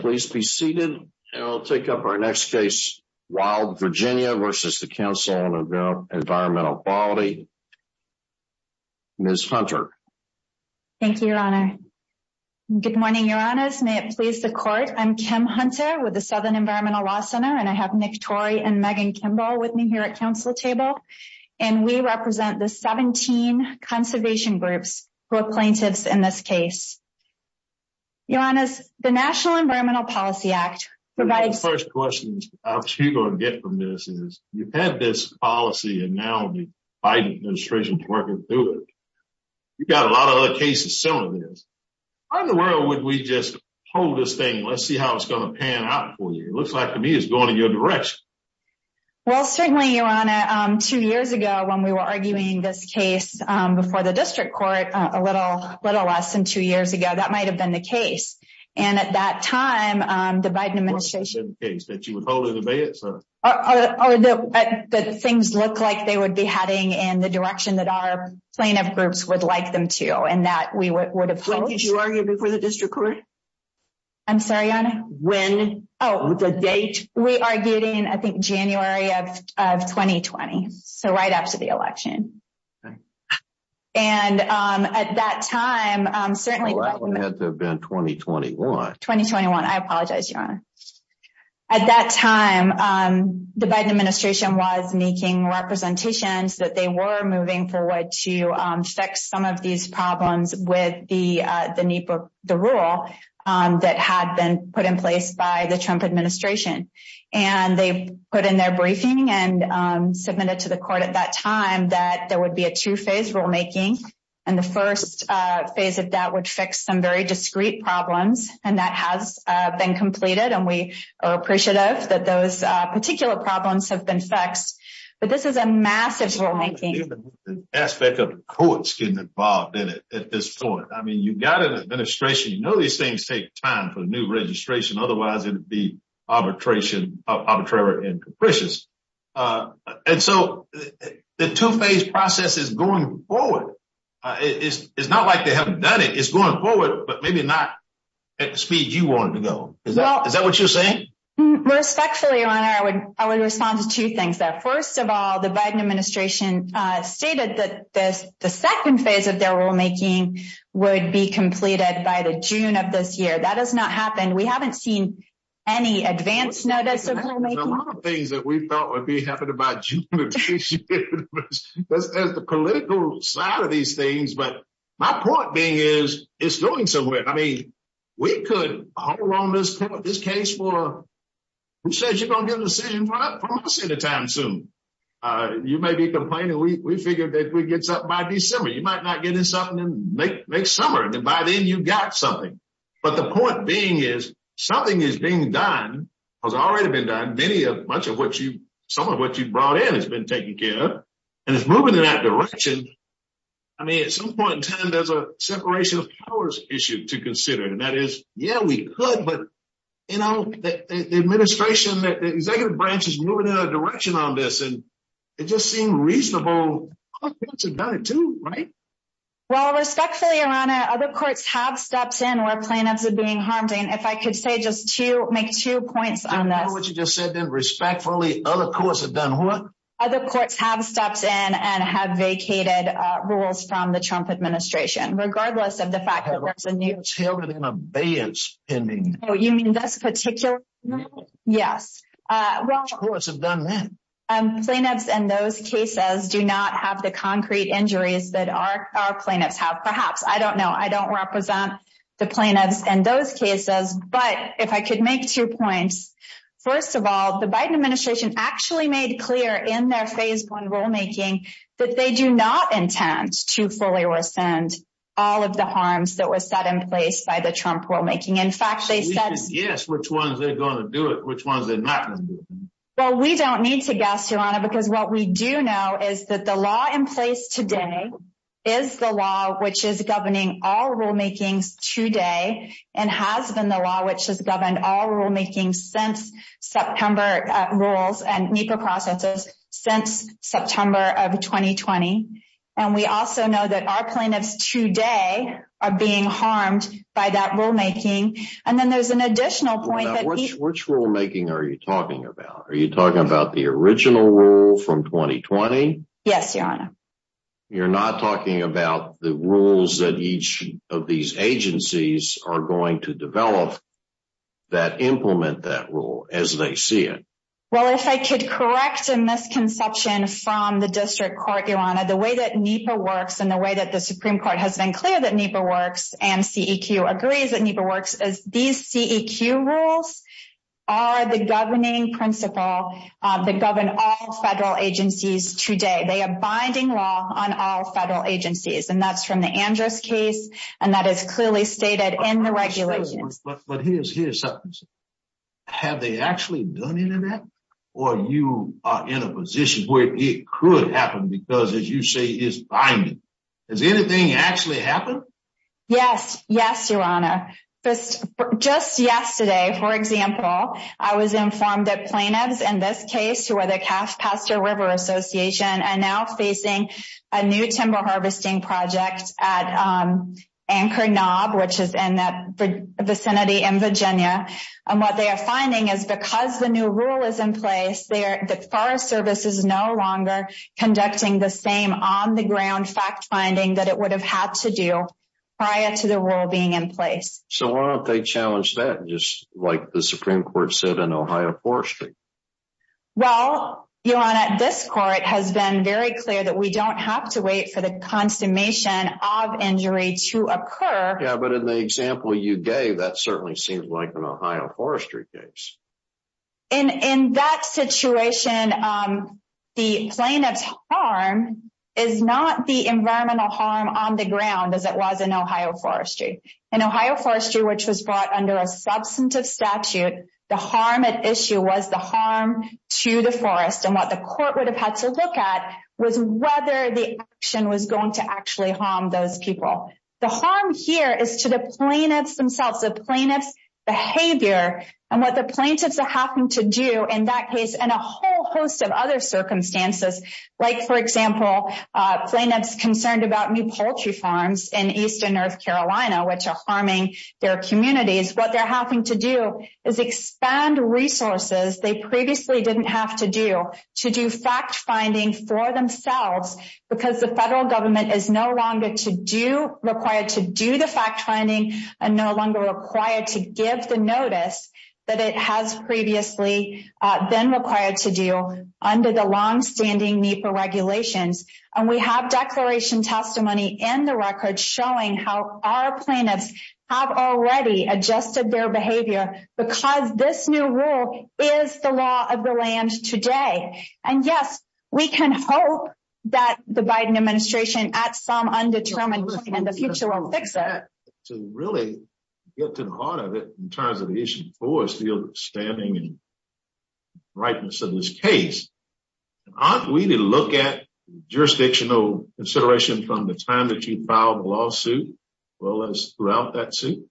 Please be seated. I will take up our next case, Wild Virginia v. Council on Environmental Quality. Ms. Hunter. Thank you, Your Honor. Good morning, Your Honors. May it please the Court, I'm Kim Hunter with the Southern Environmental Law Center, and I have Nick Torrey and Megan Kimball with me here at Council Table. And we represent the 17 conservation groups who are plaintiffs in this case. Your Honors, the National Environmental Policy Act provides... One of the first questions I'm sure you're going to get from this is, you've had this policy and now the Biden administration is working through it. You've got a lot of other cases similar to this. How in the world would we just hold this thing, let's see how it's going to pan out for you? It looks like to me it's going in your direction. Well, certainly, Your Honor, two years ago when we were arguing this case before the district court, a little less than two years ago, that might have been the case. And at that time, the Biden administration... What would have been the case? That you would hold an embassy? That things look like they would be heading in the direction that our plaintiff groups would like them to, and that we would have... When did you argue before the district court? I'm sorry, Your Honor? When? Oh, the date? We argued in, I think, January of 2020, so right after the election. And at that time, certainly... Well, it had to have been 2021. At that time, the Biden administration was making representations that they were moving forward to fix some of these problems with the rule that had been put in place by the Trump administration. And they put in their briefing and submitted to the court at that time that there would be a two-phase rulemaking. And the first phase of that would fix some very discrete problems, and that has been completed. And we are appreciative that those particular problems have been fixed. But this is a massive rulemaking. The aspect of the courts getting involved in it at this point. I mean, you've got an administration. You know these things take time for new registration. Otherwise, it would be arbitrary and capricious. And so the two-phase process is going forward. It's not like they haven't done it. It's going forward, but maybe not at the speed you want it to go. Is that what you're saying? Respectfully, Your Honor, I would respond to two things. First of all, the Biden administration stated that the second phase of their rulemaking would be completed by the June of this year. That has not happened. We haven't seen any advance notice of rulemaking. There's a lot of things that we thought would be happening by June of this year. There's the political side of these things, but my point being is it's going somewhere. I mean, we could hold on to this case for, who says you're going to get a decision from us any time soon. You may be complaining. We figured that we'd get something by December. You might not get something until next summer. And by then, you've got something. But the point being is something is being done, has already been done. Much of what you brought in has been taken care of. And it's moving in that direction. I mean, at some point in time, there's a separation of powers issue to consider. And that is, yeah, we could, but, you know, the administration, the executive branch is moving in a direction on this. And it just seemed reasonable to do it too, right? Well, respectfully, Your Honor, other courts have stepped in where plaintiffs are being harmed. And if I could say just to make two points on that. Respectfully, other courts have done what? Other courts have stepped in and have vacated rules from the Trump administration, regardless of the fact that there's a new. It's held it in abeyance pending. Oh, you mean this particular one? Yes. Which courts have done that? Plaintiffs in those cases do not have the concrete injuries that our plaintiffs have, perhaps. I don't know. I don't represent the plaintiffs in those cases. But if I could make two points. First of all, the Biden administration actually made clear in their phase one rulemaking that they do not intend to fully rescind all of the harms that was set in place by the Trump rulemaking. In fact, they said. Yes, which ones they're going to do it, which ones they're not. Well, we don't need to guess, Your Honor, because what we do know is that the law in place today is the law which is governing all rulemakings today and has been the law which has governed all rulemaking since September rules and NEPA processes since September of 2020. And we also know that our plaintiffs today are being harmed by that rulemaking. And then there's an additional point. Which rulemaking are you talking about? Are you talking about the original rule from 2020? Yes, Your Honor. You're not talking about the rules that each of these agencies are going to develop that implement that rule as they see it. Well, if I could correct a misconception from the district court, Your Honor, the way that NEPA works and the way that the Supreme Court has been clear that NEPA works and CEQ agrees that NEPA works as these CEQ rules are the governing principle that govern all federal agencies today. They are binding law on all federal agencies. And that's from the Andrews case. And that is clearly stated in the regulations. But here's something. Have they actually done any of that? Or are you in a position where it could happen because, as you say, it's binding? Has anything actually happened? Yes. Yes, Your Honor. Just yesterday, for example, I was informed that plaintiffs in this case, who are the Caspaster River Association, are now facing a new timber harvesting project at Anchor Knob, which is in that vicinity in Virginia. And what they are finding is because the new rule is in place, the Forest Service is no longer conducting the same on-the-ground fact-finding that it would have had to do prior to the rule being in place. So why don't they challenge that, just like the Supreme Court said in Ohio Forestry? Well, Your Honor, this court has been very clear that we don't have to wait for the consummation of injury to occur. Yeah, but in the example you gave, that certainly seems like an Ohio Forestry case. In that situation, the plaintiff's harm is not the environmental harm on the ground as it was in Ohio Forestry. In Ohio Forestry, which was brought under a substantive statute, the harm at issue was the harm to the forest. And what the court would have had to look at was whether the action was going to actually harm those people. The harm here is to the plaintiffs themselves, the plaintiffs' behavior, and what the plaintiffs are having to do in that case and a whole host of other circumstances. Like, for example, plaintiffs concerned about new poultry farms in eastern North Carolina, which are harming their communities. What they're having to do is expand resources they previously didn't have to do to do fact-finding for themselves because the federal government is no longer required to do the fact-finding and no longer required to give the notice that it has previously been required to do under the long-standing NEPA regulations. And we have declaration testimony in the record showing how our plaintiffs have already adjusted their behavior because this new rule is the law of the land today. And yes, we can hope that the Biden administration at some undetermined point in the future will fix it. To really get to the heart of it in terms of the issue of forest, the standing and rightness of this case, aren't we to look at jurisdictional consideration from the time that you filed the lawsuit as well as throughout that suit?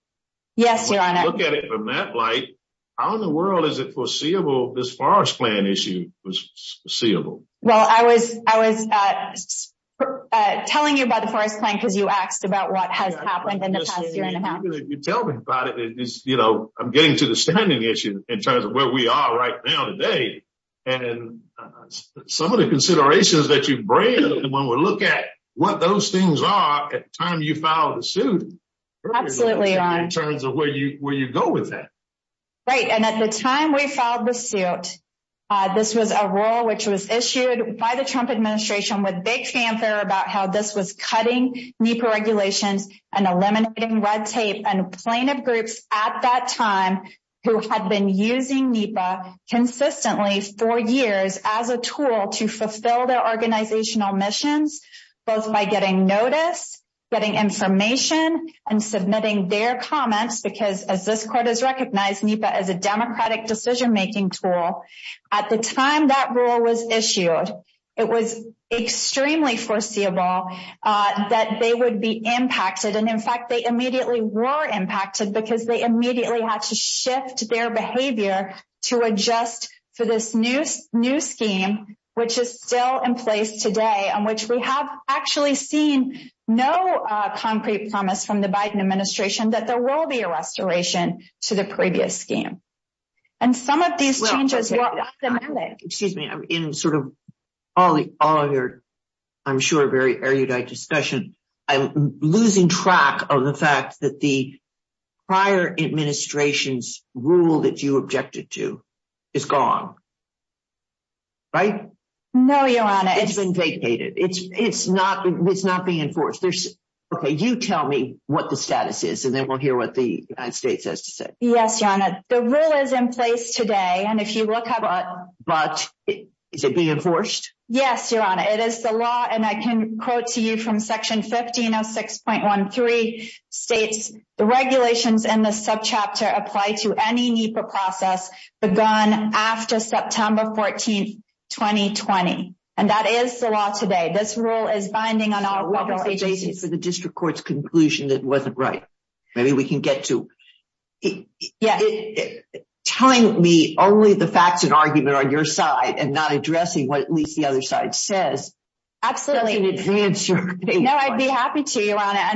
Yes, Your Honor. Look at it from that light, how in the world is it foreseeable this forest plan issue was foreseeable? Well, I was telling you about the forest plan because you asked about what has happened in the past year and a half. You tell me about it. I'm getting to the standing issue in terms of where we are right now today. And some of the considerations that you bring up when we look at what those things are at the time you filed the suit. Absolutely, Your Honor. In terms of where you go with that. Right. And at the time we filed the suit, this was a rule which was issued by the Trump administration with big fanfare about how this was cutting NEPA regulations and eliminating red tape and plaintiff groups at that time who had been using NEPA consistently for years as a tool to fulfill their organizational missions. Both by getting notice, getting information and submitting their comments because as this court has recognized NEPA as a democratic decision making tool. At the time that rule was issued, it was extremely foreseeable that they would be impacted. And in fact, they immediately were impacted because they immediately had to shift their behavior to adjust for this new scheme, which is still in place today, on which we have actually seen no concrete promise from the Biden administration that there will be a restoration to the previous scheme. And some of these changes. Excuse me, I'm in sort of all of your, I'm sure, very erudite discussion. I'm losing track of the fact that the prior administration's rule that you objected to is gone. Right? No, Your Honor. It's been vacated. It's not being enforced. Okay, you tell me what the status is and then we'll hear what the United States has to say. Yes, Your Honor. The rule is in place today and if you look at it. But is it being enforced? Yes, Your Honor. It is the law and I can quote to you from Section 1506.13 states, the regulations in the subchapter apply to any NEPA process begun after September 14, 2020. And that is the law today. This rule is binding on all federal agencies. Maybe we can get to it. Yeah. Telling me only the facts and argument on your side and not addressing what at least the other side says. Absolutely. And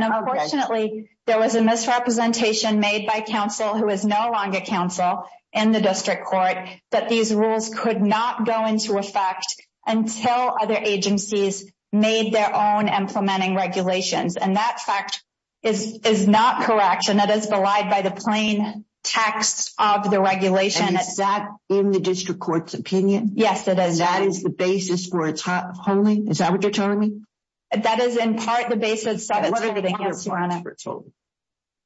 unfortunately, there was a misrepresentation made by counsel who is no longer counsel in the district court that these rules could not go into effect until other agencies made their own implementing regulations. And that fact is not correct and that is belied by the plain text of the regulation. And is that in the district court's opinion? Yes, it is. That is the basis for its holding? Is that what you're telling me? That is in part the basis of it. What are the grounds, Your Honor?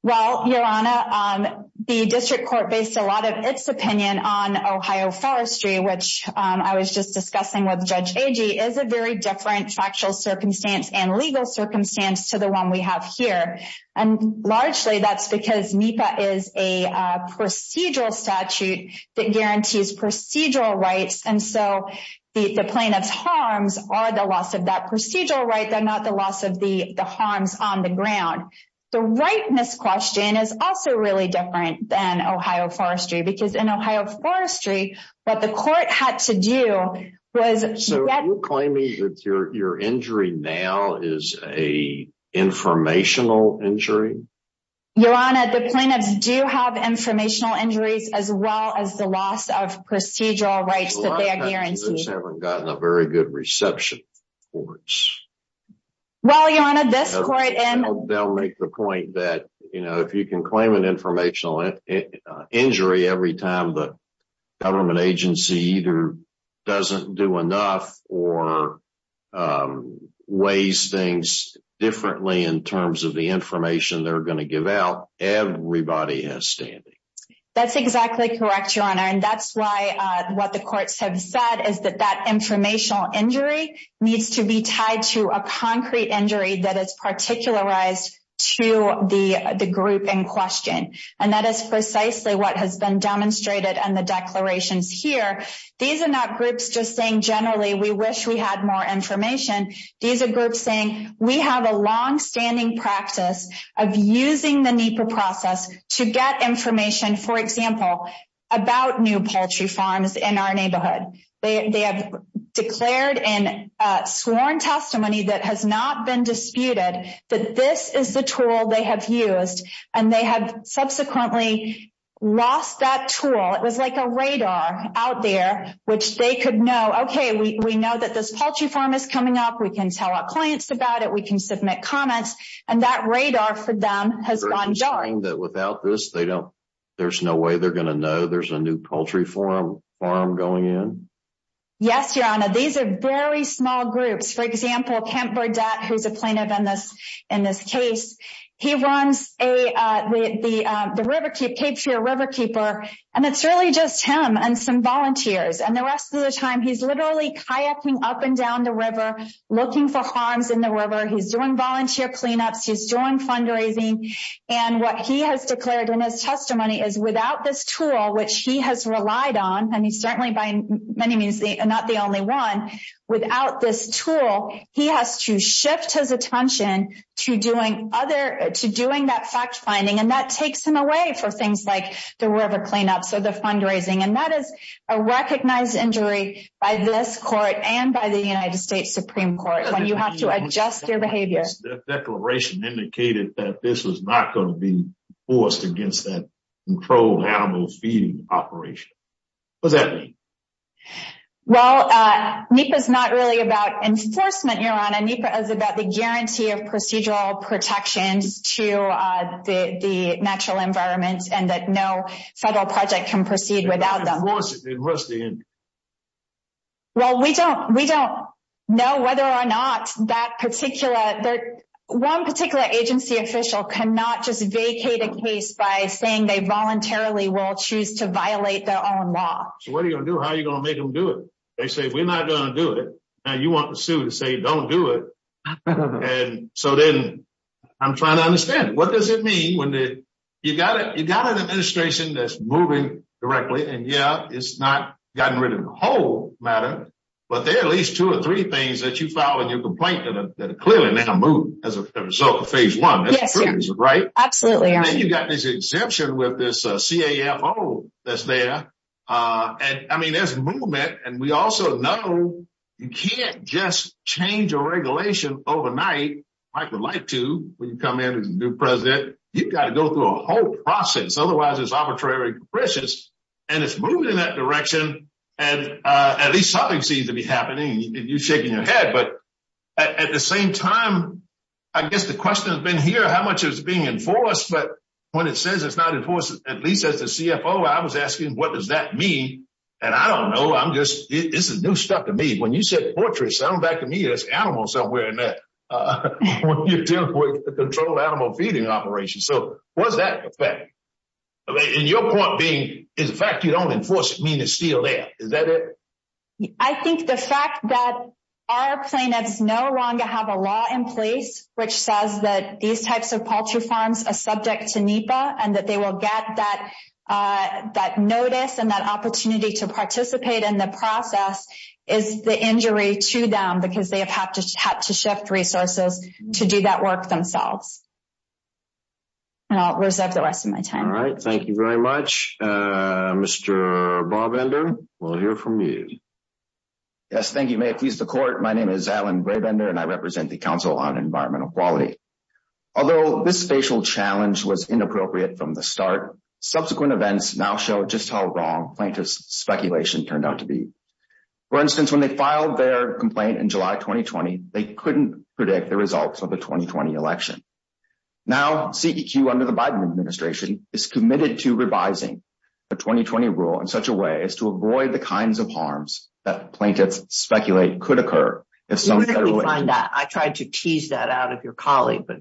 Well, Your Honor, the district court based a lot of its opinion on Ohio forestry, which I was just discussing with Judge Agee, is a very different factual circumstance and legal circumstance to the one we have here. And largely that's because NEPA is a procedural statute that guarantees procedural rights. And so the plaintiff's harms are the loss of that procedural right, they're not the loss of the harms on the ground. The rightness question is also really different than Ohio forestry, because in Ohio forestry, what the court had to do was... Are you claiming that your injury now is a informational injury? Your Honor, the plaintiffs do have informational injuries as well as the loss of procedural rights that they are guaranteeing. A lot of plaintiffs haven't gotten a very good reception. Well, Your Honor, this court... weighs things differently in terms of the information they're going to give out. Everybody has standing. That's exactly correct, Your Honor. And that's why what the courts have said is that that informational injury needs to be tied to a concrete injury that is particularized to the group in question. And that is precisely what has been demonstrated in the declarations here. These are not groups just saying, generally, we wish we had more information. These are groups saying, we have a longstanding practice of using the NEPA process to get information, for example, about new poultry farms in our neighborhood. They have declared and sworn testimony that has not been disputed that this is the tool they have used. And they have subsequently lost that tool. It was like a radar out there, which they could know, okay, we know that this poultry farm is coming up. We can tell our clients about it. We can submit comments. And that radar for them has gone dark. You're saying that without this, there's no way they're going to know there's a new poultry farm going in? Yes, Your Honor. These are very small groups. For example, Kemp Burdette, who's a plaintiff in this case, he runs the Cape Fear Riverkeeper. And it's really just him and some volunteers. And the rest of the time, he's literally kayaking up and down the river, looking for harms in the river. He's doing volunteer cleanups. He's doing fundraising. And what he has declared in his testimony is without this tool, which he has relied on, and he's certainly by many means not the only one, without this tool, he has to shift his attention to doing that fact-finding. And that takes him away from things like the river cleanups or the fundraising. And that is a recognized injury by this court and by the United States Supreme Court when you have to adjust your behavior. That declaration indicated that this was not going to be forced against that controlled animal feeding operation. What does that mean? Well, NEPA is not really about enforcement, Your Honor. NEPA is about the guarantee of procedural protections to the natural environment and that no federal project can proceed without them. Well, we don't know whether or not that particular – one particular agency official cannot just vacate a case by saying they voluntarily will choose to violate their own law. So what are you going to do? How are you going to make them do it? They say, we're not going to do it. Now you want the suit to say, don't do it. And so then I'm trying to understand. What does it mean when – you've got an administration that's moving directly, and yeah, it's not gotten rid of the whole matter, but there are at least two or three things that you file in your complaint that are clearly now moved as a result of phase one. Yes, Your Honor. Right? Absolutely, Your Honor. And then you've got this exemption with this CAFO that's there. And, I mean, there's movement. And we also know you can't just change a regulation overnight. Mike would like to when you come in as the new president. You've got to go through a whole process. Otherwise, it's arbitrary and capricious. And it's moving in that direction. And at least something seems to be happening. You're shaking your head. But at the same time, I guess the question has been here, how much is being enforced? But when it says it's not enforced, at least as the CFO, I was asking, what does that mean? And I don't know. I'm just – this is new stuff to me. When you said portraits, it sounded back to me as animals somewhere in there. When you're dealing with a controlled animal feeding operation. So what does that affect? And your point being the fact you don't enforce it means it's still there. Is that it? I think the fact that our plaintiffs no longer have a law in place, which says that these types of poultry farms are subject to NEPA, and that they will get that notice and that opportunity to participate in the process, is the injury to them because they have had to shift resources to do that work themselves. And I'll reserve the rest of my time. All right. Thank you very much. Mr. Brabender, we'll hear from you. Yes, thank you. May it please the Court, my name is Alan Brabender, and I represent the Council on Environmental Equality. Although this spatial challenge was inappropriate from the start, subsequent events now show just how wrong plaintiff's speculation turned out to be. For instance, when they filed their complaint in July 2020, they couldn't predict the results of the 2020 election. Now, CEQ under the Biden administration is committed to revising the 2020 rule in such a way as to avoid the kinds of harms that plaintiffs speculate could occur. Where did we find that? I tried to tease that out of your colleague, but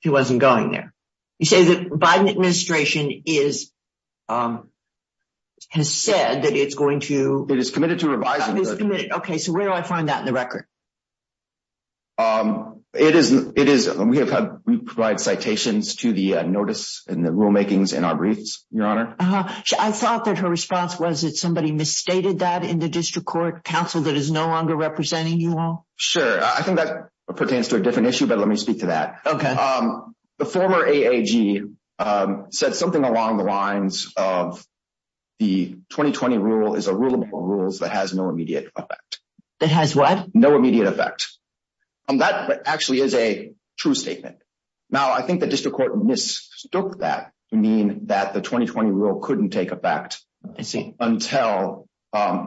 he wasn't going there. You say the Biden administration has said that it's going to… It is committed to revising the… Okay, so where do I find that in the record? It is… We provide citations to the notice and the rulemakings in our briefs, Your Honor. I thought that her response was that somebody misstated that in the district court counsel that is no longer representing you all. Sure. I think that pertains to a different issue, but let me speak to that. Okay. The former AAG said something along the lines of the 2020 rule is a rule above all rules that has no immediate effect. That has what? No immediate effect. That actually is a true statement. Now, I think the district court mistook that to mean that the 2020 rule couldn't take effect until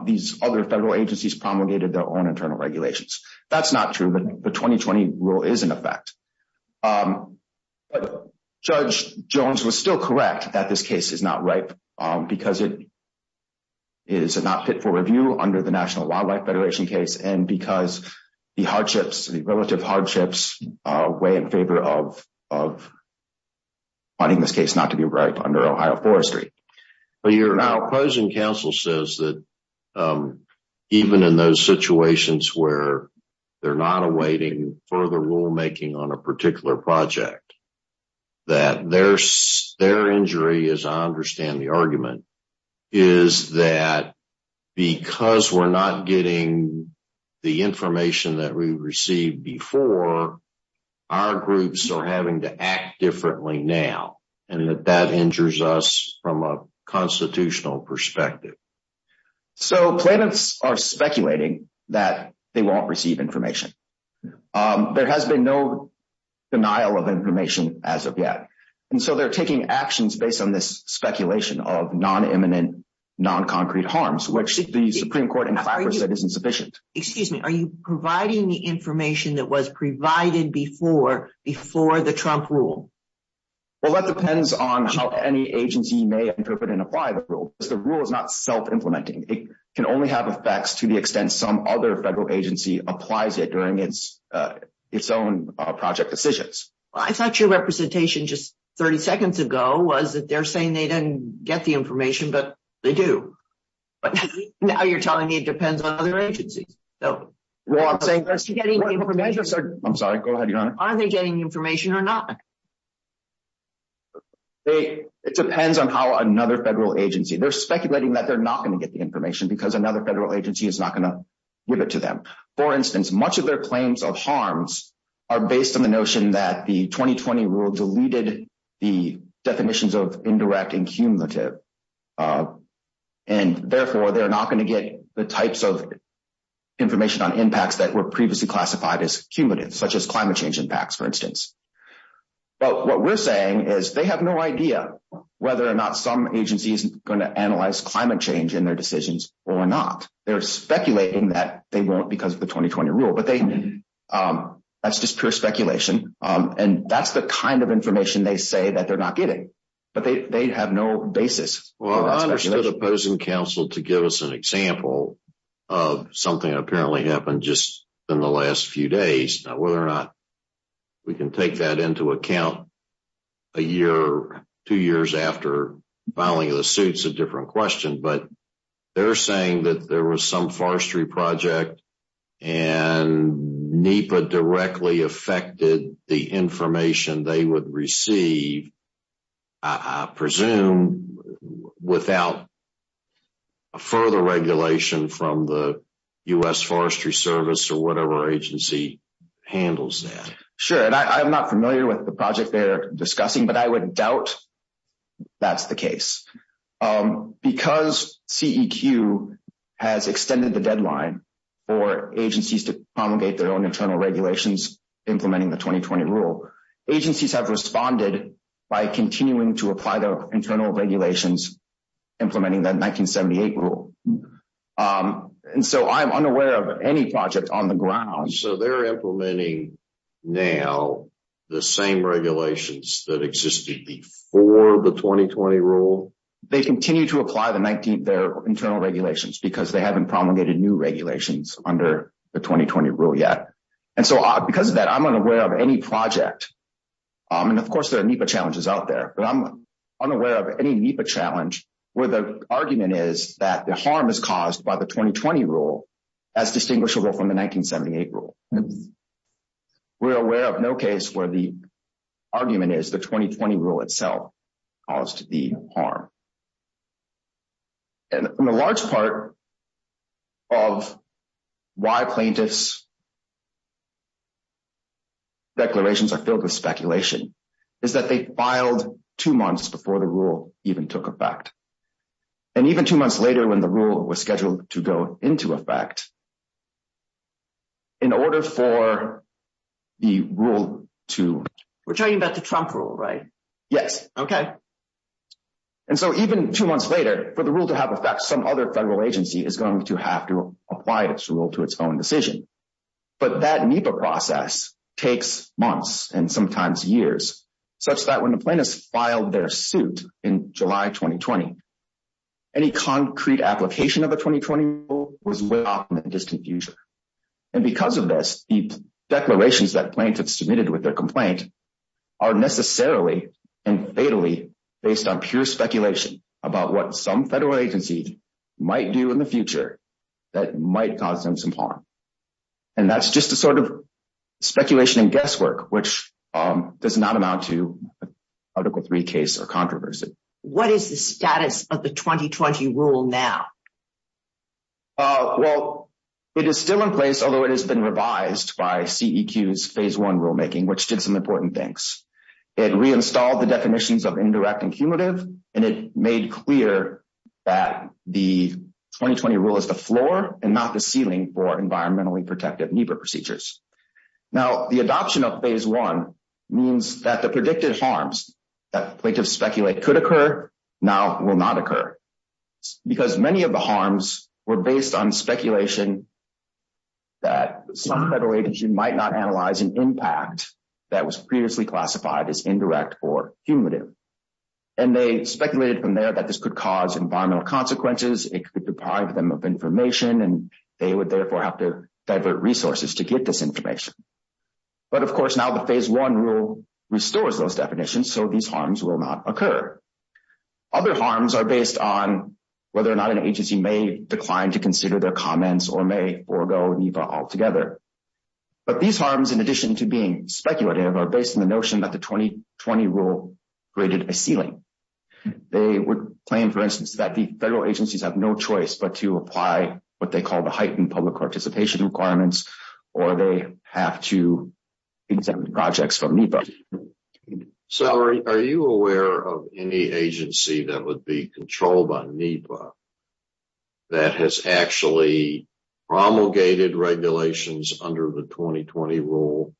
these other federal agencies promulgated their own internal regulations. That's not true, but the 2020 rule is in effect. Judge Jones was still correct that this case is not ripe because it is not fit for review under the National Wildlife Federation case and because the hardships, the relative hardships, weigh in favor of finding this case not to be right under Ohio Forestry. But your opposing counsel says that even in those situations where they're not awaiting further rulemaking on a particular project, is that because we're not getting the information that we received before, our groups are having to act differently now, and that that injures us from a constitutional perspective. So plaintiffs are speculating that they won't receive information. There has been no denial of information as of yet. And so they're taking actions based on this speculation of non-imminent, non-concrete harms, which the Supreme Court in Clapper said isn't sufficient. Excuse me. Are you providing the information that was provided before the Trump rule? Well, that depends on how any agency may interpret and apply the rule because the rule is not self-implementing. It can only have effects to the extent some other federal agency applies it during its own project decisions. Well, I thought your representation just 30 seconds ago was that they're saying they didn't get the information, but they do. But now you're telling me it depends on other agencies. Well, I'm saying— I'm sorry. Go ahead, Your Honor. Are they getting information or not? It depends on how another federal agency— they're speculating that they're not going to get the information because another federal agency is not going to give it to them. For instance, much of their claims of harms are based on the notion that the 2020 rule deleted the definitions of indirect and cumulative, and therefore they're not going to get the types of information on impacts that were previously classified as cumulative, such as climate change impacts, for instance. But what we're saying is they have no idea whether or not some agency is going to analyze climate change in their decisions or not. They're speculating that they won't because of the 2020 rule, but that's just pure speculation, and that's the kind of information they say that they're not getting. But they have no basis for that speculation. Well, I understood opposing counsel to give us an example of something that apparently happened just in the last few days. Now, whether or not we can take that into account a year or two years after filing of the suit is a different question, but they're saying that there was some forestry project and NEPA directly affected the information they would receive, I presume, without further regulation from the U.S. Forestry Service or whatever agency handles that. Sure, and I'm not familiar with the project they're discussing, but I would doubt that's the case. Because CEQ has extended the deadline for agencies to promulgate their own internal regulations implementing the 2020 rule, agencies have responded by continuing to apply their internal regulations implementing that 1978 rule. And so I'm unaware of any project on the ground. So they're implementing now the same regulations that existed before the 2020 rule? They continue to apply their internal regulations because they haven't promulgated new regulations under the 2020 rule yet. And so because of that, I'm unaware of any project. And, of course, there are NEPA challenges out there, but I'm unaware of any NEPA challenge where the argument is that the harm is caused by the 2020 rule as distinguishable from the 1978 rule. We're aware of no case where the argument is the 2020 rule itself caused the harm. And a large part of why plaintiffs' declarations are filled with speculation is that they filed two months before the rule even took effect. And even two months later when the rule was scheduled to go into effect, in order for the rule to… We're talking about the Trump rule, right? Yes. Okay. And so even two months later, for the rule to have effect, some other federal agency is going to have to apply its rule to its own decision. But that NEPA process takes months and sometimes years, such that when the plaintiffs filed their suit in July 2020, any concrete application of the 2020 rule was left out in the distant future. And because of this, the declarations that plaintiffs submitted with their complaint are necessarily and fatally based on pure speculation about what some federal agency might do in the future that might cause them some harm. And that's just a sort of speculation and guesswork, which does not amount to Article III case or controversy. What is the status of the 2020 rule now? Well, it is still in place, although it has been revised by CEQ's Phase I rulemaking, which did some important things. It reinstalled the definitions of indirect and cumulative, and it made clear that the 2020 rule is the floor and not the ceiling for environmentally protective NEPA procedures. Now, the adoption of Phase I means that the predicted harms that plaintiffs speculate could occur now will not occur, because many of the harms were based on speculation that some federal agency might not analyze an impact that was previously classified as indirect or cumulative. And they speculated from there that this could cause environmental consequences, it could deprive them of information, and they would therefore have to divert resources to get this information. But, of course, now the Phase I rule restores those definitions, so these harms will not occur. Other harms are based on whether or not an agency may decline to consider their comments or may forego NEPA altogether. But these harms, in addition to being speculative, are based on the notion that the 2020 rule created a ceiling. They would claim, for instance, that the federal agencies have no choice but to apply what they call the heightened public participation requirements or they have to exempt projects from NEPA. Salary, are you aware of any agency that would be controlled by NEPA that has actually promulgated regulations under the 2020 rule?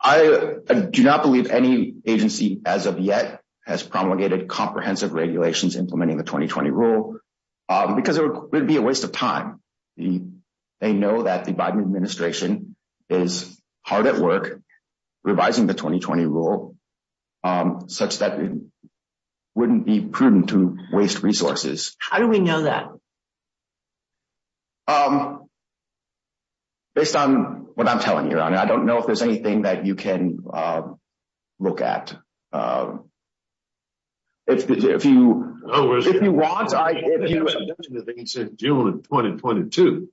I do not believe any agency as of yet has promulgated comprehensive regulations implementing the 2020 rule, because it would be a waste of time. They know that the Biden administration is hard at work revising the 2020 rule, such that it wouldn't be prudent to waste resources. How do we know that? Based on what I'm telling you, Your Honor, I don't know if there's anything that you can look at. If you want, I can give you an example. He said June of 2022.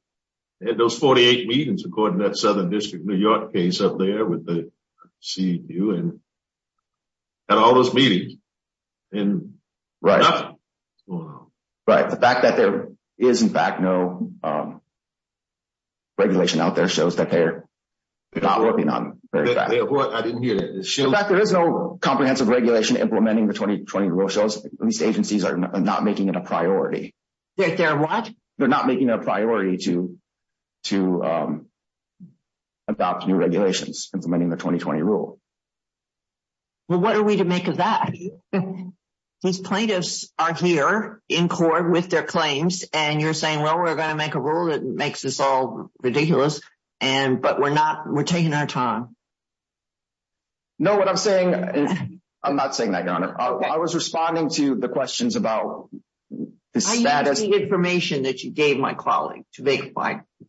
They had those 48 meetings, according to that Southern District of New York case up there with the CEU, and had all those meetings, and nothing was going on. Right. The fact that there is, in fact, no regulation out there shows that they're not working on it. I didn't hear that. In fact, there is no comprehensive regulation implementing the 2020 rule. These agencies are not making it a priority. They're what? They're not making it a priority to adopt new regulations implementing the 2020 rule. Well, what are we to make of that? These plaintiffs are here in court with their claims, and you're saying, well, we're going to make a rule that makes us all ridiculous, but we're taking our time. No, what I'm saying is – I'm not saying that, Your Honor. I was responding to the questions about the status – What is the information that you gave my colleague to make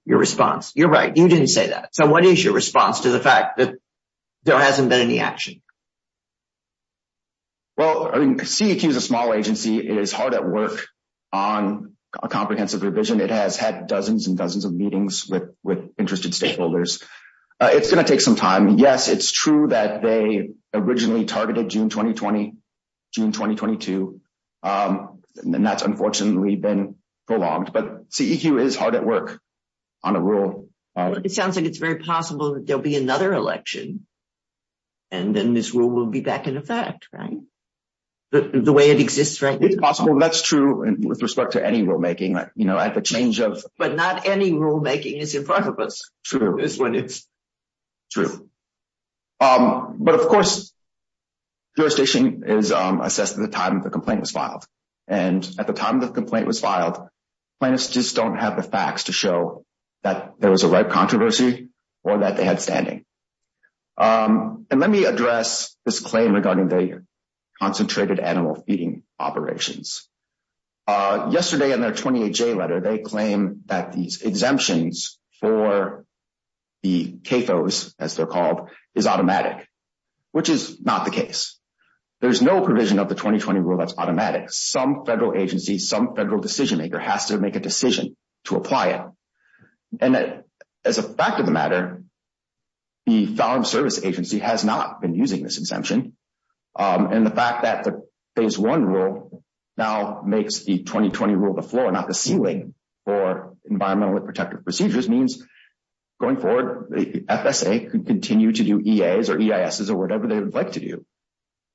your response? You're right. You didn't say that. So what is your response to the fact that there hasn't been any action? Well, CEQ is a small agency. It is hard at work on a comprehensive revision. It has had dozens and dozens of meetings with interested stakeholders. It's going to take some time. Yes, it's true that they originally targeted June 2020, June 2022, and that's unfortunately been prolonged. But CEQ is hard at work on a rule. It sounds like it's very possible that there will be another election, and then this rule will be back in effect, right? The way it exists right now. It's possible. That's true with respect to any rulemaking. You know, at the change of – But not any rulemaking is in front of us. True. True. But, of course, jurisdiction is assessed at the time the complaint was filed. And at the time the complaint was filed, plaintiffs just don't have the facts to show that there was a ripe controversy or that they had standing. And let me address this claim regarding the concentrated animal feeding operations. Yesterday in their 28-J letter, they claim that these exemptions for the CAFOs, as they're called, is automatic, which is not the case. There's no provision of the 2020 rule that's automatic. Some federal agency, some federal decision-maker has to make a decision to apply it. And as a fact of the matter, the Farm Service Agency has not been using this exemption. And the fact that the Phase 1 rule now makes the 2020 rule the floor, not the ceiling for environmentally protective procedures, means going forward the FSA could continue to do EAs or EISs or whatever they would like to do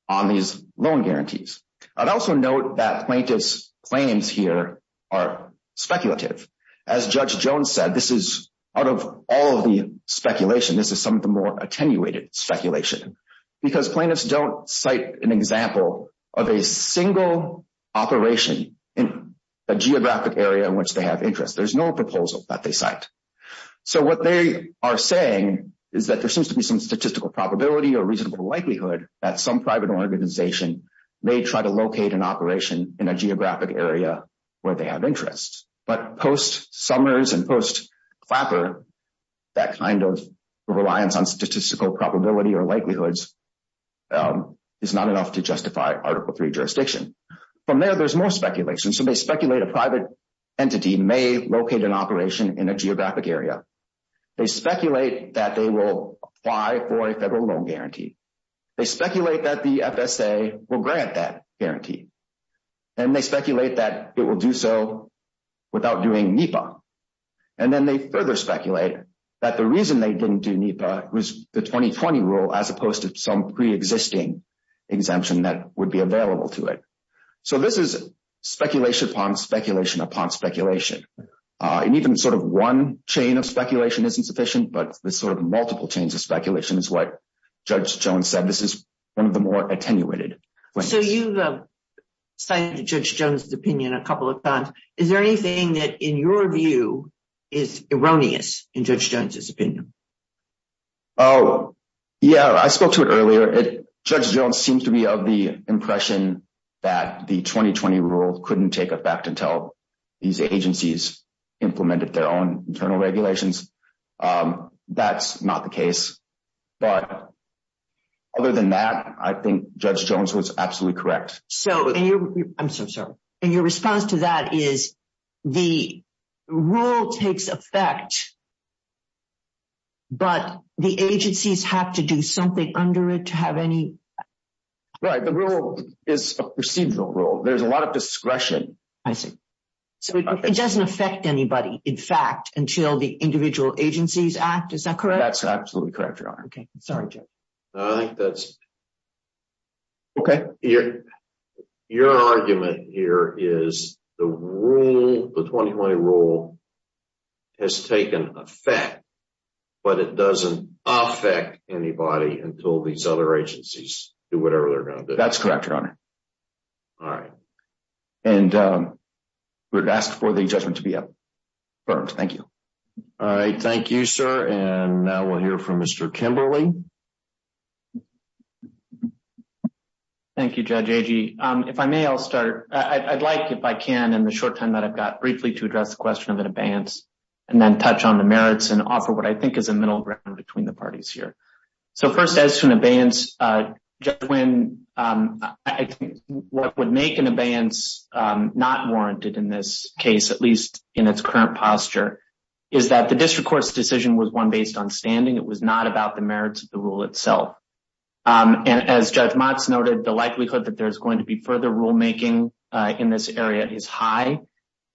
on these loan guarantees. I'd also note that plaintiffs' claims here are speculative. As Judge Jones said, this is, out of all of the speculation, this is some of the more attenuated speculation because plaintiffs don't cite an example of a single operation in a geographic area in which they have interest. There's no proposal that they cite. So what they are saying is that there seems to be some statistical probability or reasonable likelihood that some private organization may try to locate an operation in a geographic area where they have interest. But post-Summers and post-Clapper, that kind of reliance on statistical probability or likelihoods is not enough to justify Article III jurisdiction. From there, there's more speculation. So they speculate a private entity may locate an operation in a geographic area. They speculate that they will apply for a federal loan guarantee. They speculate that the FSA will grant that guarantee. And they speculate that it will do so without doing NEPA. And then they further speculate that the reason they didn't do NEPA was the 2020 rule as opposed to some pre-existing exemption that would be available to it. So this is speculation upon speculation upon speculation. And even sort of one chain of speculation isn't sufficient, but this sort of multiple chains of speculation is what Judge Jones said. This is one of the more attenuated claims. So you've cited Judge Jones' opinion a couple of times. Is there anything that, in your view, is erroneous in Judge Jones' opinion? Oh, yeah, I spoke to it earlier. Judge Jones seemed to be of the impression that the 2020 rule couldn't take effect until these agencies implemented their own internal regulations. That's not the case. But other than that, I think Judge Jones was absolutely correct. I'm so sorry. And your response to that is the rule takes effect, but the agencies have to do something under it to have any… Right, the rule is a procedural rule. There's a lot of discretion. I see. So it doesn't affect anybody, in fact, until the individual agencies act. Is that correct? That's absolutely correct, Your Honor. Okay, sorry, Jeff. I think that's… Okay. Your argument here is the rule, the 2020 rule, has taken effect, but it doesn't affect anybody until these other agencies do whatever they're going to do. That's correct, Your Honor. All right. And we would ask for the judgment to be affirmed. Thank you. All right, thank you, sir. And now we'll hear from Mr. Kimberley. Thank you, Judge Agee. If I may, I'll start. I'd like, if I can, in the short time that I've got, briefly to address the question of an abeyance and then touch on the merits and offer what I think is a middle ground between the parties here. So first, as to an abeyance, Judge Nguyen, I think what would make an abeyance not warranted in this case, at least in its current posture, is that the district court's decision was one based on standing. It was not about the merits of the rule itself. And as Judge Motz noted, the likelihood that there's going to be further rulemaking in this area is high.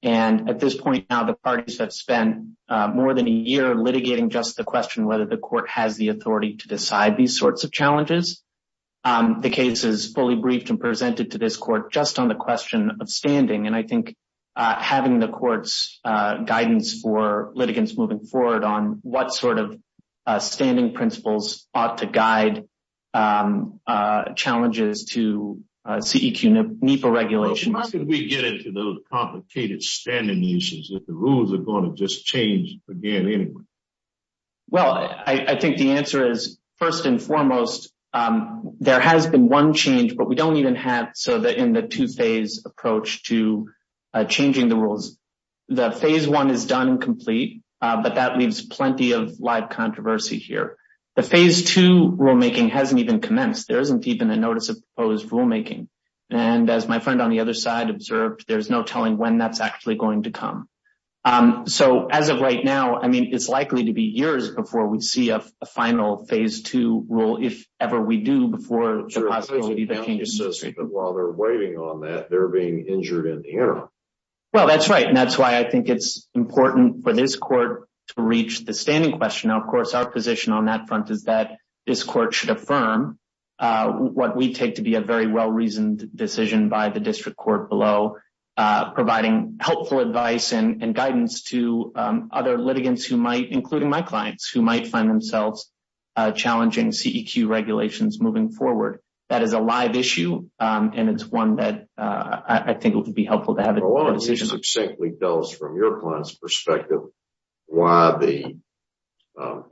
And at this point now, the parties have spent more than a year litigating just the question whether the court has the authority to decide these sorts of challenges. The case is fully briefed and presented to this court just on the question of standing. And I think having the court's guidance for litigants moving forward on what sort of standing principles ought to guide challenges to CEQ NEPA regulations. How can we get into those complicated standing issues if the rules are going to just change again anyway? Well, I think the answer is, first and foremost, there has been one change, but we don't even have in the two-phase approach to changing the rules. The phase one is done and complete, but that leaves plenty of live controversy here. The phase two rulemaking hasn't even commenced. There isn't even a notice of proposed rulemaking. And as my friend on the other side observed, there's no telling when that's actually going to come. So as of right now, I mean, it's likely to be years before we see a final phase two rule, if ever we do, before the possibility of changing the system. While they're waiting on that, they're being injured in the interim. Well, that's right. And that's why I think it's important for this court to reach the standing question. Of course, our position on that front is that this court should affirm what we take to be a very well-reasoned decision by the district court below, providing helpful advice and guidance to other litigants who might, including my clients, who might find themselves challenging CEQ regulations moving forward. That is a live issue, and it's one that I think would be helpful to have a decision. Can you succinctly tell us from your client's perspective why the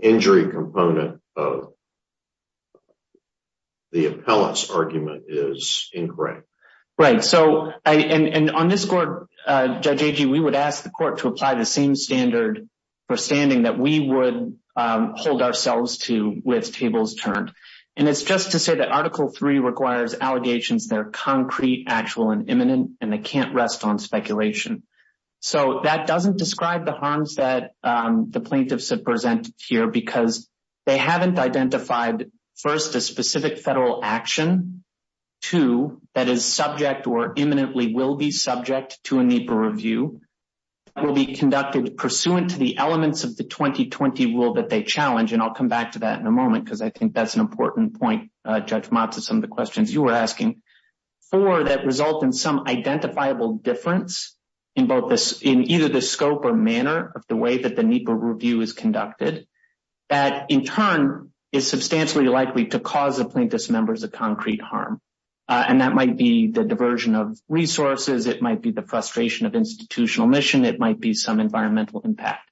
injury component of the appellant's argument is incorrect? Right. So on this court, Judge Agee, we would ask the court to apply the same standard for standing that we would hold ourselves to with tables turned. And it's just to say that Article 3 requires allegations that are concrete, actual, and imminent, and they can't rest on speculation. So that doesn't describe the harms that the plaintiffs have presented here because they haven't identified, first, a specific federal action, two, that is subject or imminently will be subject to a NEPA review, will be conducted pursuant to the elements of the 2020 rule that they challenge. And I'll come back to that in a moment because I think that's an important point, Judge Mott, to some of the questions you were asking. Four, that result in some identifiable difference in either the scope or manner of the way that the NEPA review is conducted, that in turn is substantially likely to cause the plaintiff's members a concrete harm. And that might be the diversion of resources. It might be the frustration of institutional mission. It might be some environmental impact.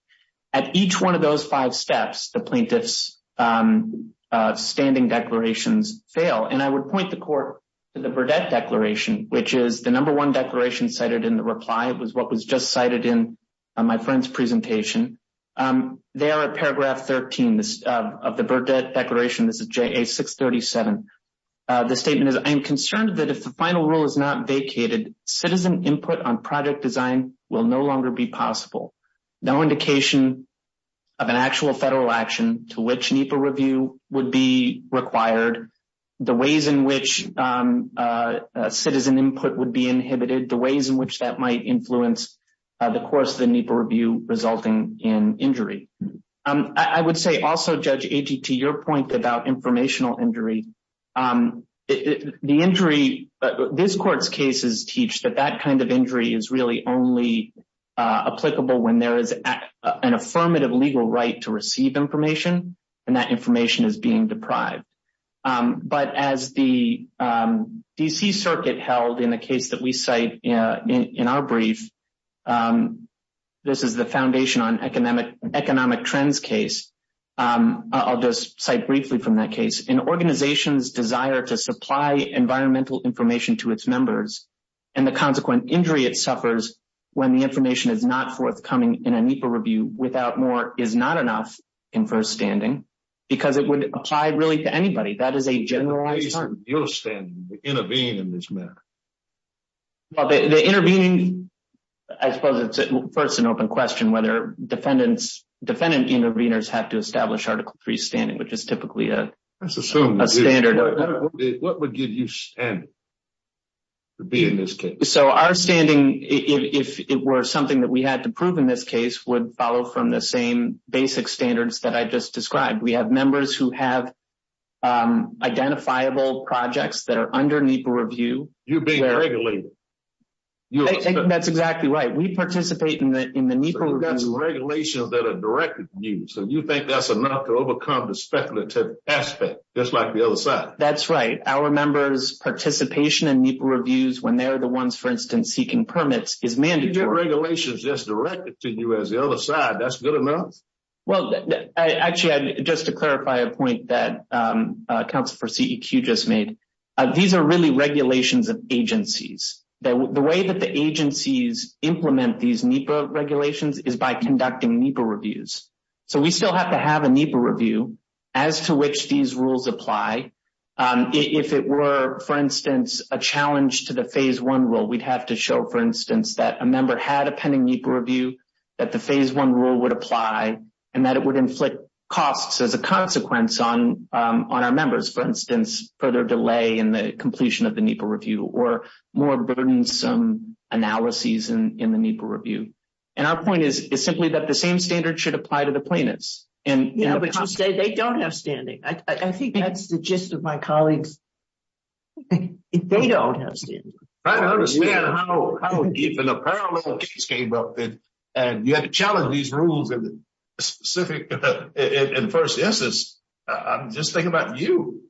At each one of those five steps, the plaintiff's standing declarations fail. And I would point the court to the Burdett Declaration, which is the number one declaration cited in the reply. It was what was just cited in my friend's presentation. There are paragraph 13 of the Burdett Declaration. This is JA 637. The statement is, I am concerned that if the final rule is not vacated, citizen input on project design will no longer be possible. No indication of an actual federal action to which NEPA review would be required, the ways in which citizen input would be inhibited, the ways in which that might influence the course of the NEPA review resulting in injury. I would say also, Judge Agee, to your point about informational injury, the injury, this court's cases teach that that kind of injury is really only applicable when there is an affirmative legal right to receive information. And that information is being deprived. But as the D.C. Circuit held in the case that we cite in our brief, this is the Foundation on Economic Trends case. I'll just cite briefly from that case. An organization's desire to supply environmental information to its members and the consequent injury it suffers when the information is not forthcoming in a NEPA review without more is not enough in first standing because it would apply really to anybody. That is a generalized term. In your stand, intervene in this matter. The intervening, I suppose it's first an open question whether defendants, defendant interveners have to establish Article 3 standing, which is typically a standard. What would give you standing to be in this case? So our standing, if it were something that we had to prove in this case, would follow from the same basic standards that I just described. We have members who have identifiable projects that are under NEPA review. You're being regulated. That's exactly right. We participate in the NEPA review. So that's regulations that are directed to you. So you think that's enough to overcome the speculative aspect, just like the other side. That's right. Our members' participation in NEPA reviews when they're the ones, for instance, seeking permits is mandatory. Your regulation is just directed to you as the other side. That's good enough? Well, actually, just to clarify a point that Council for CEQ just made, these are really regulations of agencies. The way that the agencies implement these NEPA regulations is by conducting NEPA reviews. So we still have to have a NEPA review as to which these rules apply. If it were, for instance, a challenge to the Phase I rule, we'd have to show, for instance, that a member had a pending NEPA review, that the Phase I rule would apply, and that it would inflict costs as a consequence on our members, for instance, further delay in the completion of the NEPA review or more burdensome analyses in the NEPA review. And our point is simply that the same standard should apply to the plaintiffs. But you say they don't have standing. I think that's the gist of my colleagues. They don't have standing. I don't understand how even a parallel case came up. And you had to challenge these rules in the specific, in the first instance. I'm just thinking about you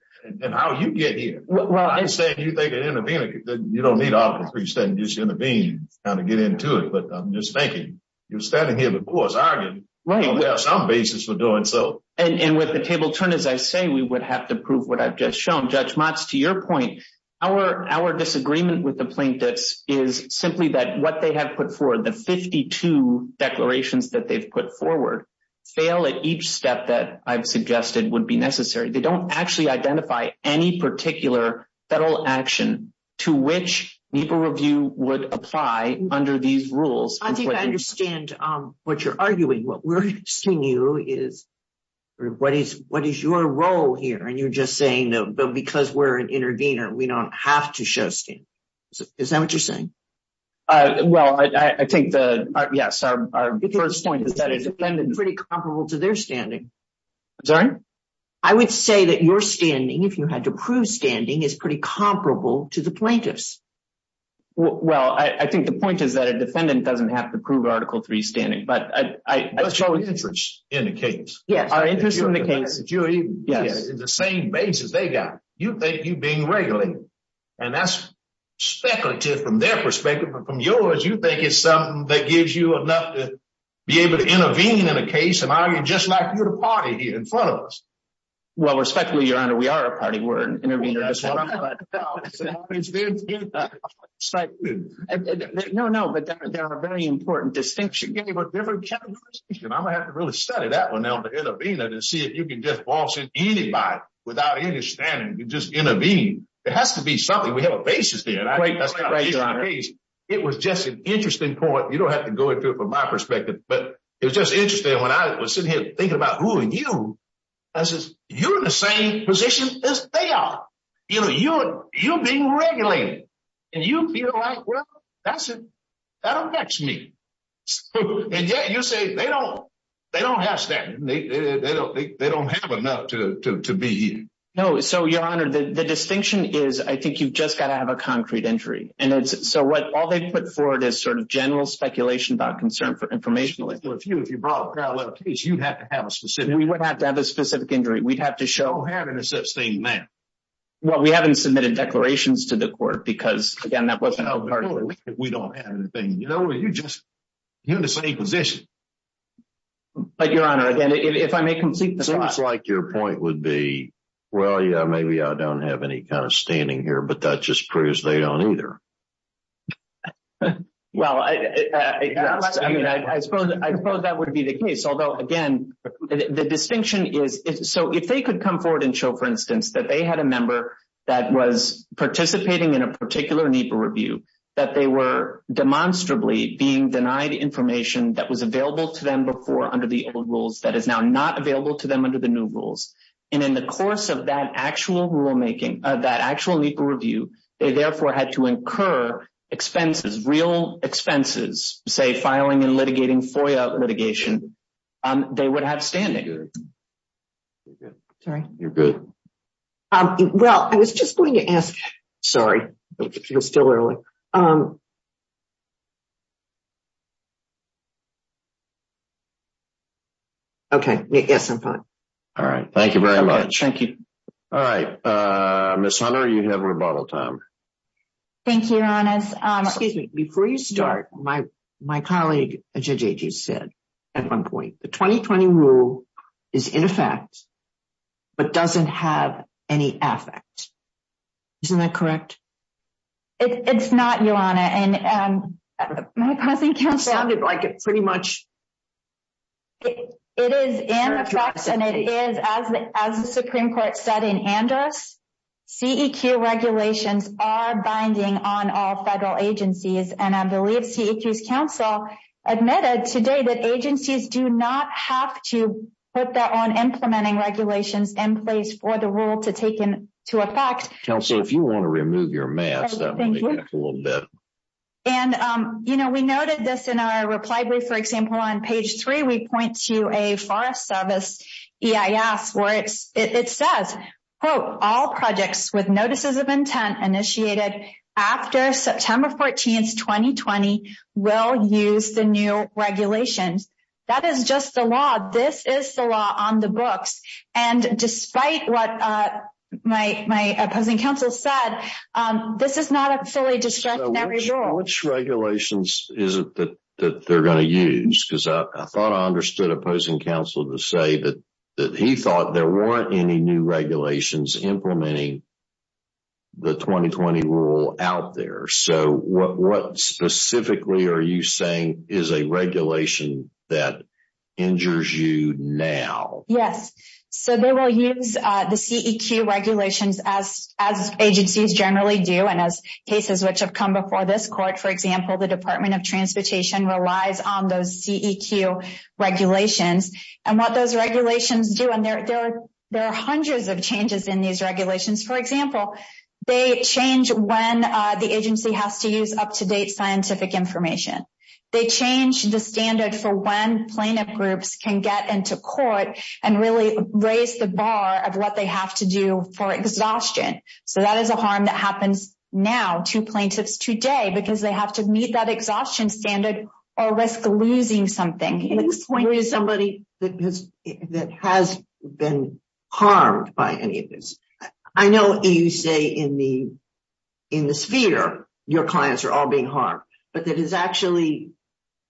and how you get here. I'm saying you think of intervening. You don't need all three standing just to intervene, kind of get into it. But I'm just thinking, you're standing here before us arguing. We have some basis for doing so. And with the table turned, as I say, we would have to prove what I've just shown. Judge Motz, to your point, our disagreement with the plaintiffs is simply that what they have put forward, the 52 declarations that they've put forward, fail at each step that I've suggested would be necessary. They don't actually identify any particular federal action to which NEPA review would apply under these rules. I think I understand what you're arguing. What we're asking you is, what is your role here? And you're just saying, because we're an intervener, we don't have to show standing. Is that what you're saying? Well, I take the, yes, our first point is that it's pretty comparable to their standing. I'm sorry? I would say that your standing, if you had to prove standing, is pretty comparable to the plaintiffs. Well, I think the point is that a defendant doesn't have to prove Article III standing. But what's your interest in the case? Yes, our interest in the case. The same basis they got. You think you're being regulated. And that's speculative from their perspective. But from yours, you think it's something that gives you enough to be able to intervene in a case and argue just like you're the party here in front of us. Well, respectfully, Your Honor, we are a party. We're an intervener as well. No, no, but there are very important distinctions. I'm going to have to really study that one now, the intervener, to see if you can just boss in anybody without any standing and just intervene. It has to be something. We have a basis there. It was just an interesting point. You don't have to go into it from my perspective, but it was just interesting when I was sitting here thinking about who are you. I said, you're in the same position as they are. You're being regulated. And you feel like, well, that affects me. And yet you say they don't have standing. They don't have enough to be here. No, so, Your Honor, the distinction is I think you've just got to have a concrete injury. And so all they put forward is sort of general speculation about concern for information. Well, if you brought a parallel case, you'd have to have a specific injury. We would have to have a specific injury. We'd have to show. We don't have any such thing now. Well, we haven't submitted declarations to the court because, again, that wasn't part of it. We don't have anything. You know, you're just in the same position. But, Your Honor, again, if I may complete the thought. It seems like your point would be, well, yeah, maybe I don't have any kind of standing here, but that just proves they don't either. Well, I suppose that would be the case. Although, again, the distinction is so if they could come forward and show, for instance, that they had a member that was participating in a particular NEPA review, that they were demonstrably being denied information that was available to them before under the old rules that is now not available to them under the new rules. And in the course of that actual rulemaking, that actual NEPA review, they therefore had to incur expenses, real expenses, say, filing and litigating FOIA litigation. They would have standing. Sorry. You're good. Well, I was just going to ask. Sorry. It's still early. Okay. Yes, I'm fine. All right. Thank you very much. Thank you. All right. Miss Hunter, you have rebuttal time. Thank you, Your Honor. Excuse me. Before you start, my colleague said at one point, the 2020 rule is in effect, but doesn't have any effect. Isn't that correct? It's not, Your Honor. It sounded like it pretty much. It is in effect, and it is, as the Supreme Court said in Andrus, CEQ regulations are binding on all federal agencies. And I believe CEQ's counsel admitted today that agencies do not have to put their own implementing regulations in place for the rule to take into effect. Counsel, if you want to remove your mask, that will make it a little better. And, you know, we noted this in our reply brief. For example, on page three, we point to a Forest Service EIS where it says, quote, all projects with notices of intent initiated after September 14th, 2020, will use the new regulations. That is just the law. This is the law on the books. And despite what my opposing counsel said, this is not a fully discretionary rule. Which regulations is it that they're going to use? Because I thought I understood opposing counsel to say that he thought there weren't any new regulations implementing the 2020 rule out there. So what specifically are you saying is a regulation that injures you now? Yes. So they will use the CEQ regulations as agencies generally do. And as cases which have come before this court, for example, the Department of Transportation relies on those CEQ regulations. And what those regulations do, and there are hundreds of changes in these regulations. For example, they change when the agency has to use up-to-date scientific information. They change the standard for when plaintiff groups can get into court and really raise the bar of what they have to do for exhaustion. So that is a harm that happens now to plaintiffs today because they have to meet that exhaustion standard or risk losing something. Can you explain to somebody that has been harmed by any of this? I know you say in the sphere your clients are all being harmed, but that has actually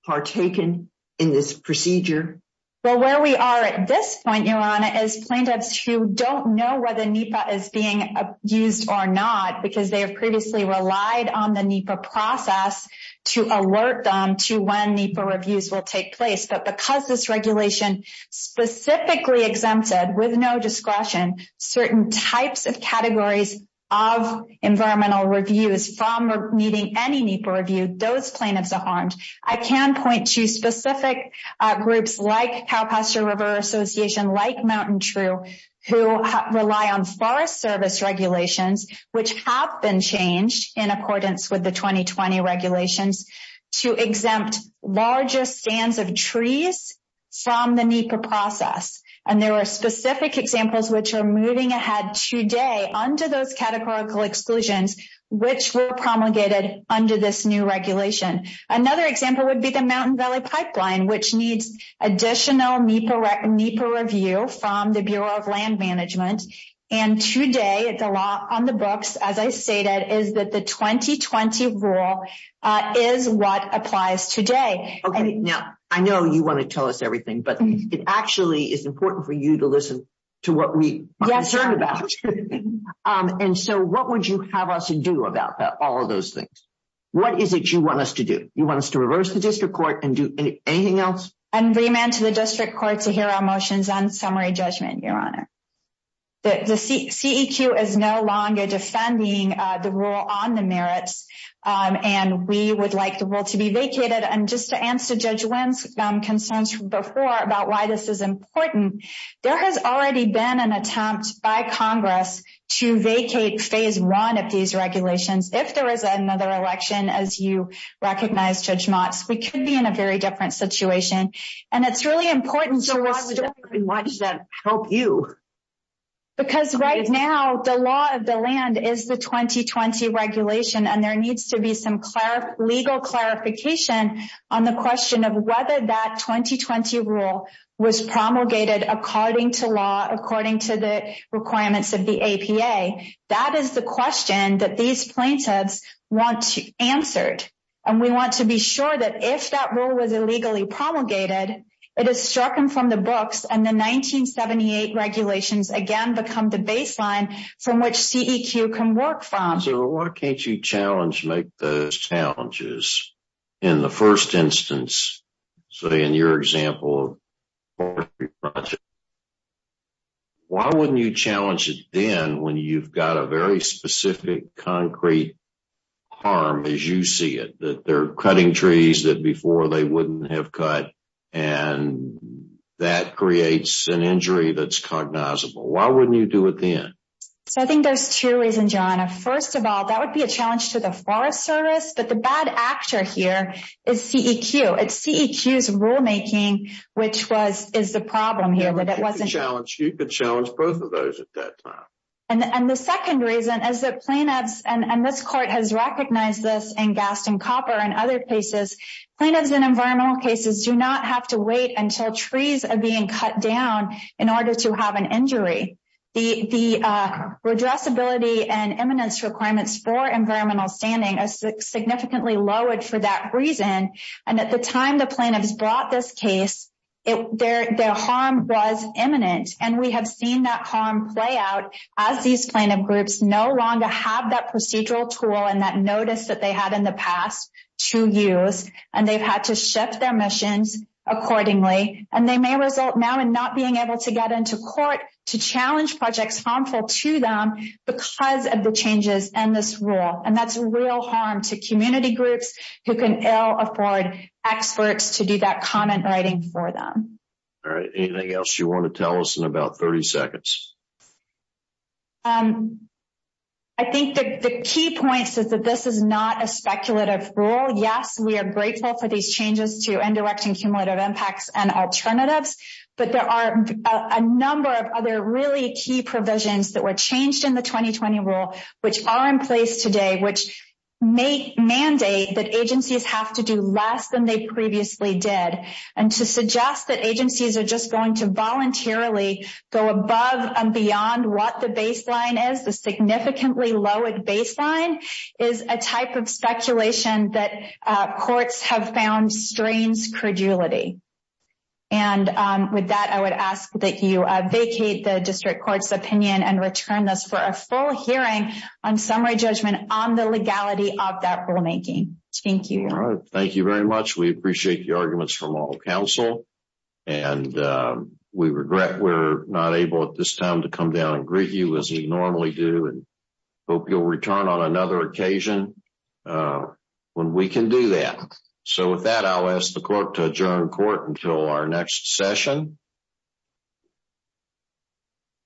partaken in this procedure? Well, where we are at this point, Your Honor, is plaintiffs who don't know whether NEPA is being used or not. Because they have previously relied on the NEPA process to alert them to when NEPA reviews will take place. But because this regulation specifically exempted, with no discretion, certain types of categories of environmental reviews from meeting any NEPA review, those plaintiffs are harmed. I can point to specific groups like Cowpasture River Association, like Mountain True, who rely on Forest Service regulations, which have been changed in accordance with the 2020 regulations, to exempt larger stands of trees from the NEPA process. And there are specific examples which are moving ahead today under those categorical exclusions which were promulgated under this new regulation. Another example would be the Mountain Valley Pipeline, which needs additional NEPA review from the Bureau of Land Management. And today, the law on the books, as I stated, is that the 2020 rule is what applies today. Okay. Now, I know you want to tell us everything, but it actually is important for you to listen to what we are concerned about. And so, what would you have us do about all of those things? What is it you want us to do? You want us to reverse the district court and do anything else? And remand to the district court to hear our motions on summary judgment, Your Honor. The CEQ is no longer defending the rule on the merits, and we would like the rule to be vacated. And just to answer Judge Wynn's concerns before about why this is important, there has already been an attempt by Congress to vacate Phase 1 of these regulations. If there is another election, as you recognize, Judge Motz, we could be in a very different situation. And it's really important for us to… So, why does that help you? Because right now, the law of the land is the 2020 regulation, and there needs to be some legal clarification on the question of whether that 2020 rule was promulgated according to law, according to the requirements of the APA. That is the question that these plaintiffs want answered. And we want to be sure that if that rule was illegally promulgated, it is stricken from the books, and the 1978 regulations again become the baseline from which CEQ can work from. So, why can't you challenge, make those challenges in the first instance? So, in your example, why wouldn't you challenge it then when you've got a very specific concrete harm as you see it? That they're cutting trees that before they wouldn't have cut, and that creates an injury that's cognizable. Why wouldn't you do it then? So, I think there's two reasons, John. First of all, that would be a challenge to the Forest Service, but the bad actor here is CEQ. It's CEQ's rulemaking which is the problem here. You could challenge both of those at that time. And the second reason is that plaintiffs, and this court has recognized this in Gaston Copper and other cases, plaintiffs in environmental cases do not have to wait until trees are being cut down in order to have an injury. The redressability and eminence requirements for environmental standing is significantly lowered for that reason. And at the time the plaintiffs brought this case, their harm was eminent. And we have seen that harm play out as these plaintiff groups no longer have that procedural tool and that notice that they had in the past to use. And they've had to shift their missions accordingly. And they may result now in not being able to get into court to challenge projects harmful to them because of the changes in this rule. And that's real harm to community groups who can ill afford experts to do that comment writing for them. All right. Anything else you want to tell us in about 30 seconds? I think the key point is that this is not a speculative rule. Yes, we are grateful for these changes to indirect and cumulative impacts and alternatives. But there are a number of other really key provisions that were changed in the 2020 rule which are in place today, which mandate that agencies have to do less than they previously did. And to suggest that agencies are just going to voluntarily go above and beyond what the baseline is, the significantly lowered baseline is a type of speculation that courts have found strains credulity. And with that, I would ask that you vacate the district court's opinion and return this for a full hearing on summary judgment on the legality of that rulemaking. Thank you. All right. Thank you very much. We appreciate the arguments from all counsel. And we regret we're not able at this time to come down and greet you as we normally do and hope you'll return on another occasion when we can do that. So with that, I'll ask the court to adjourn court until our next session.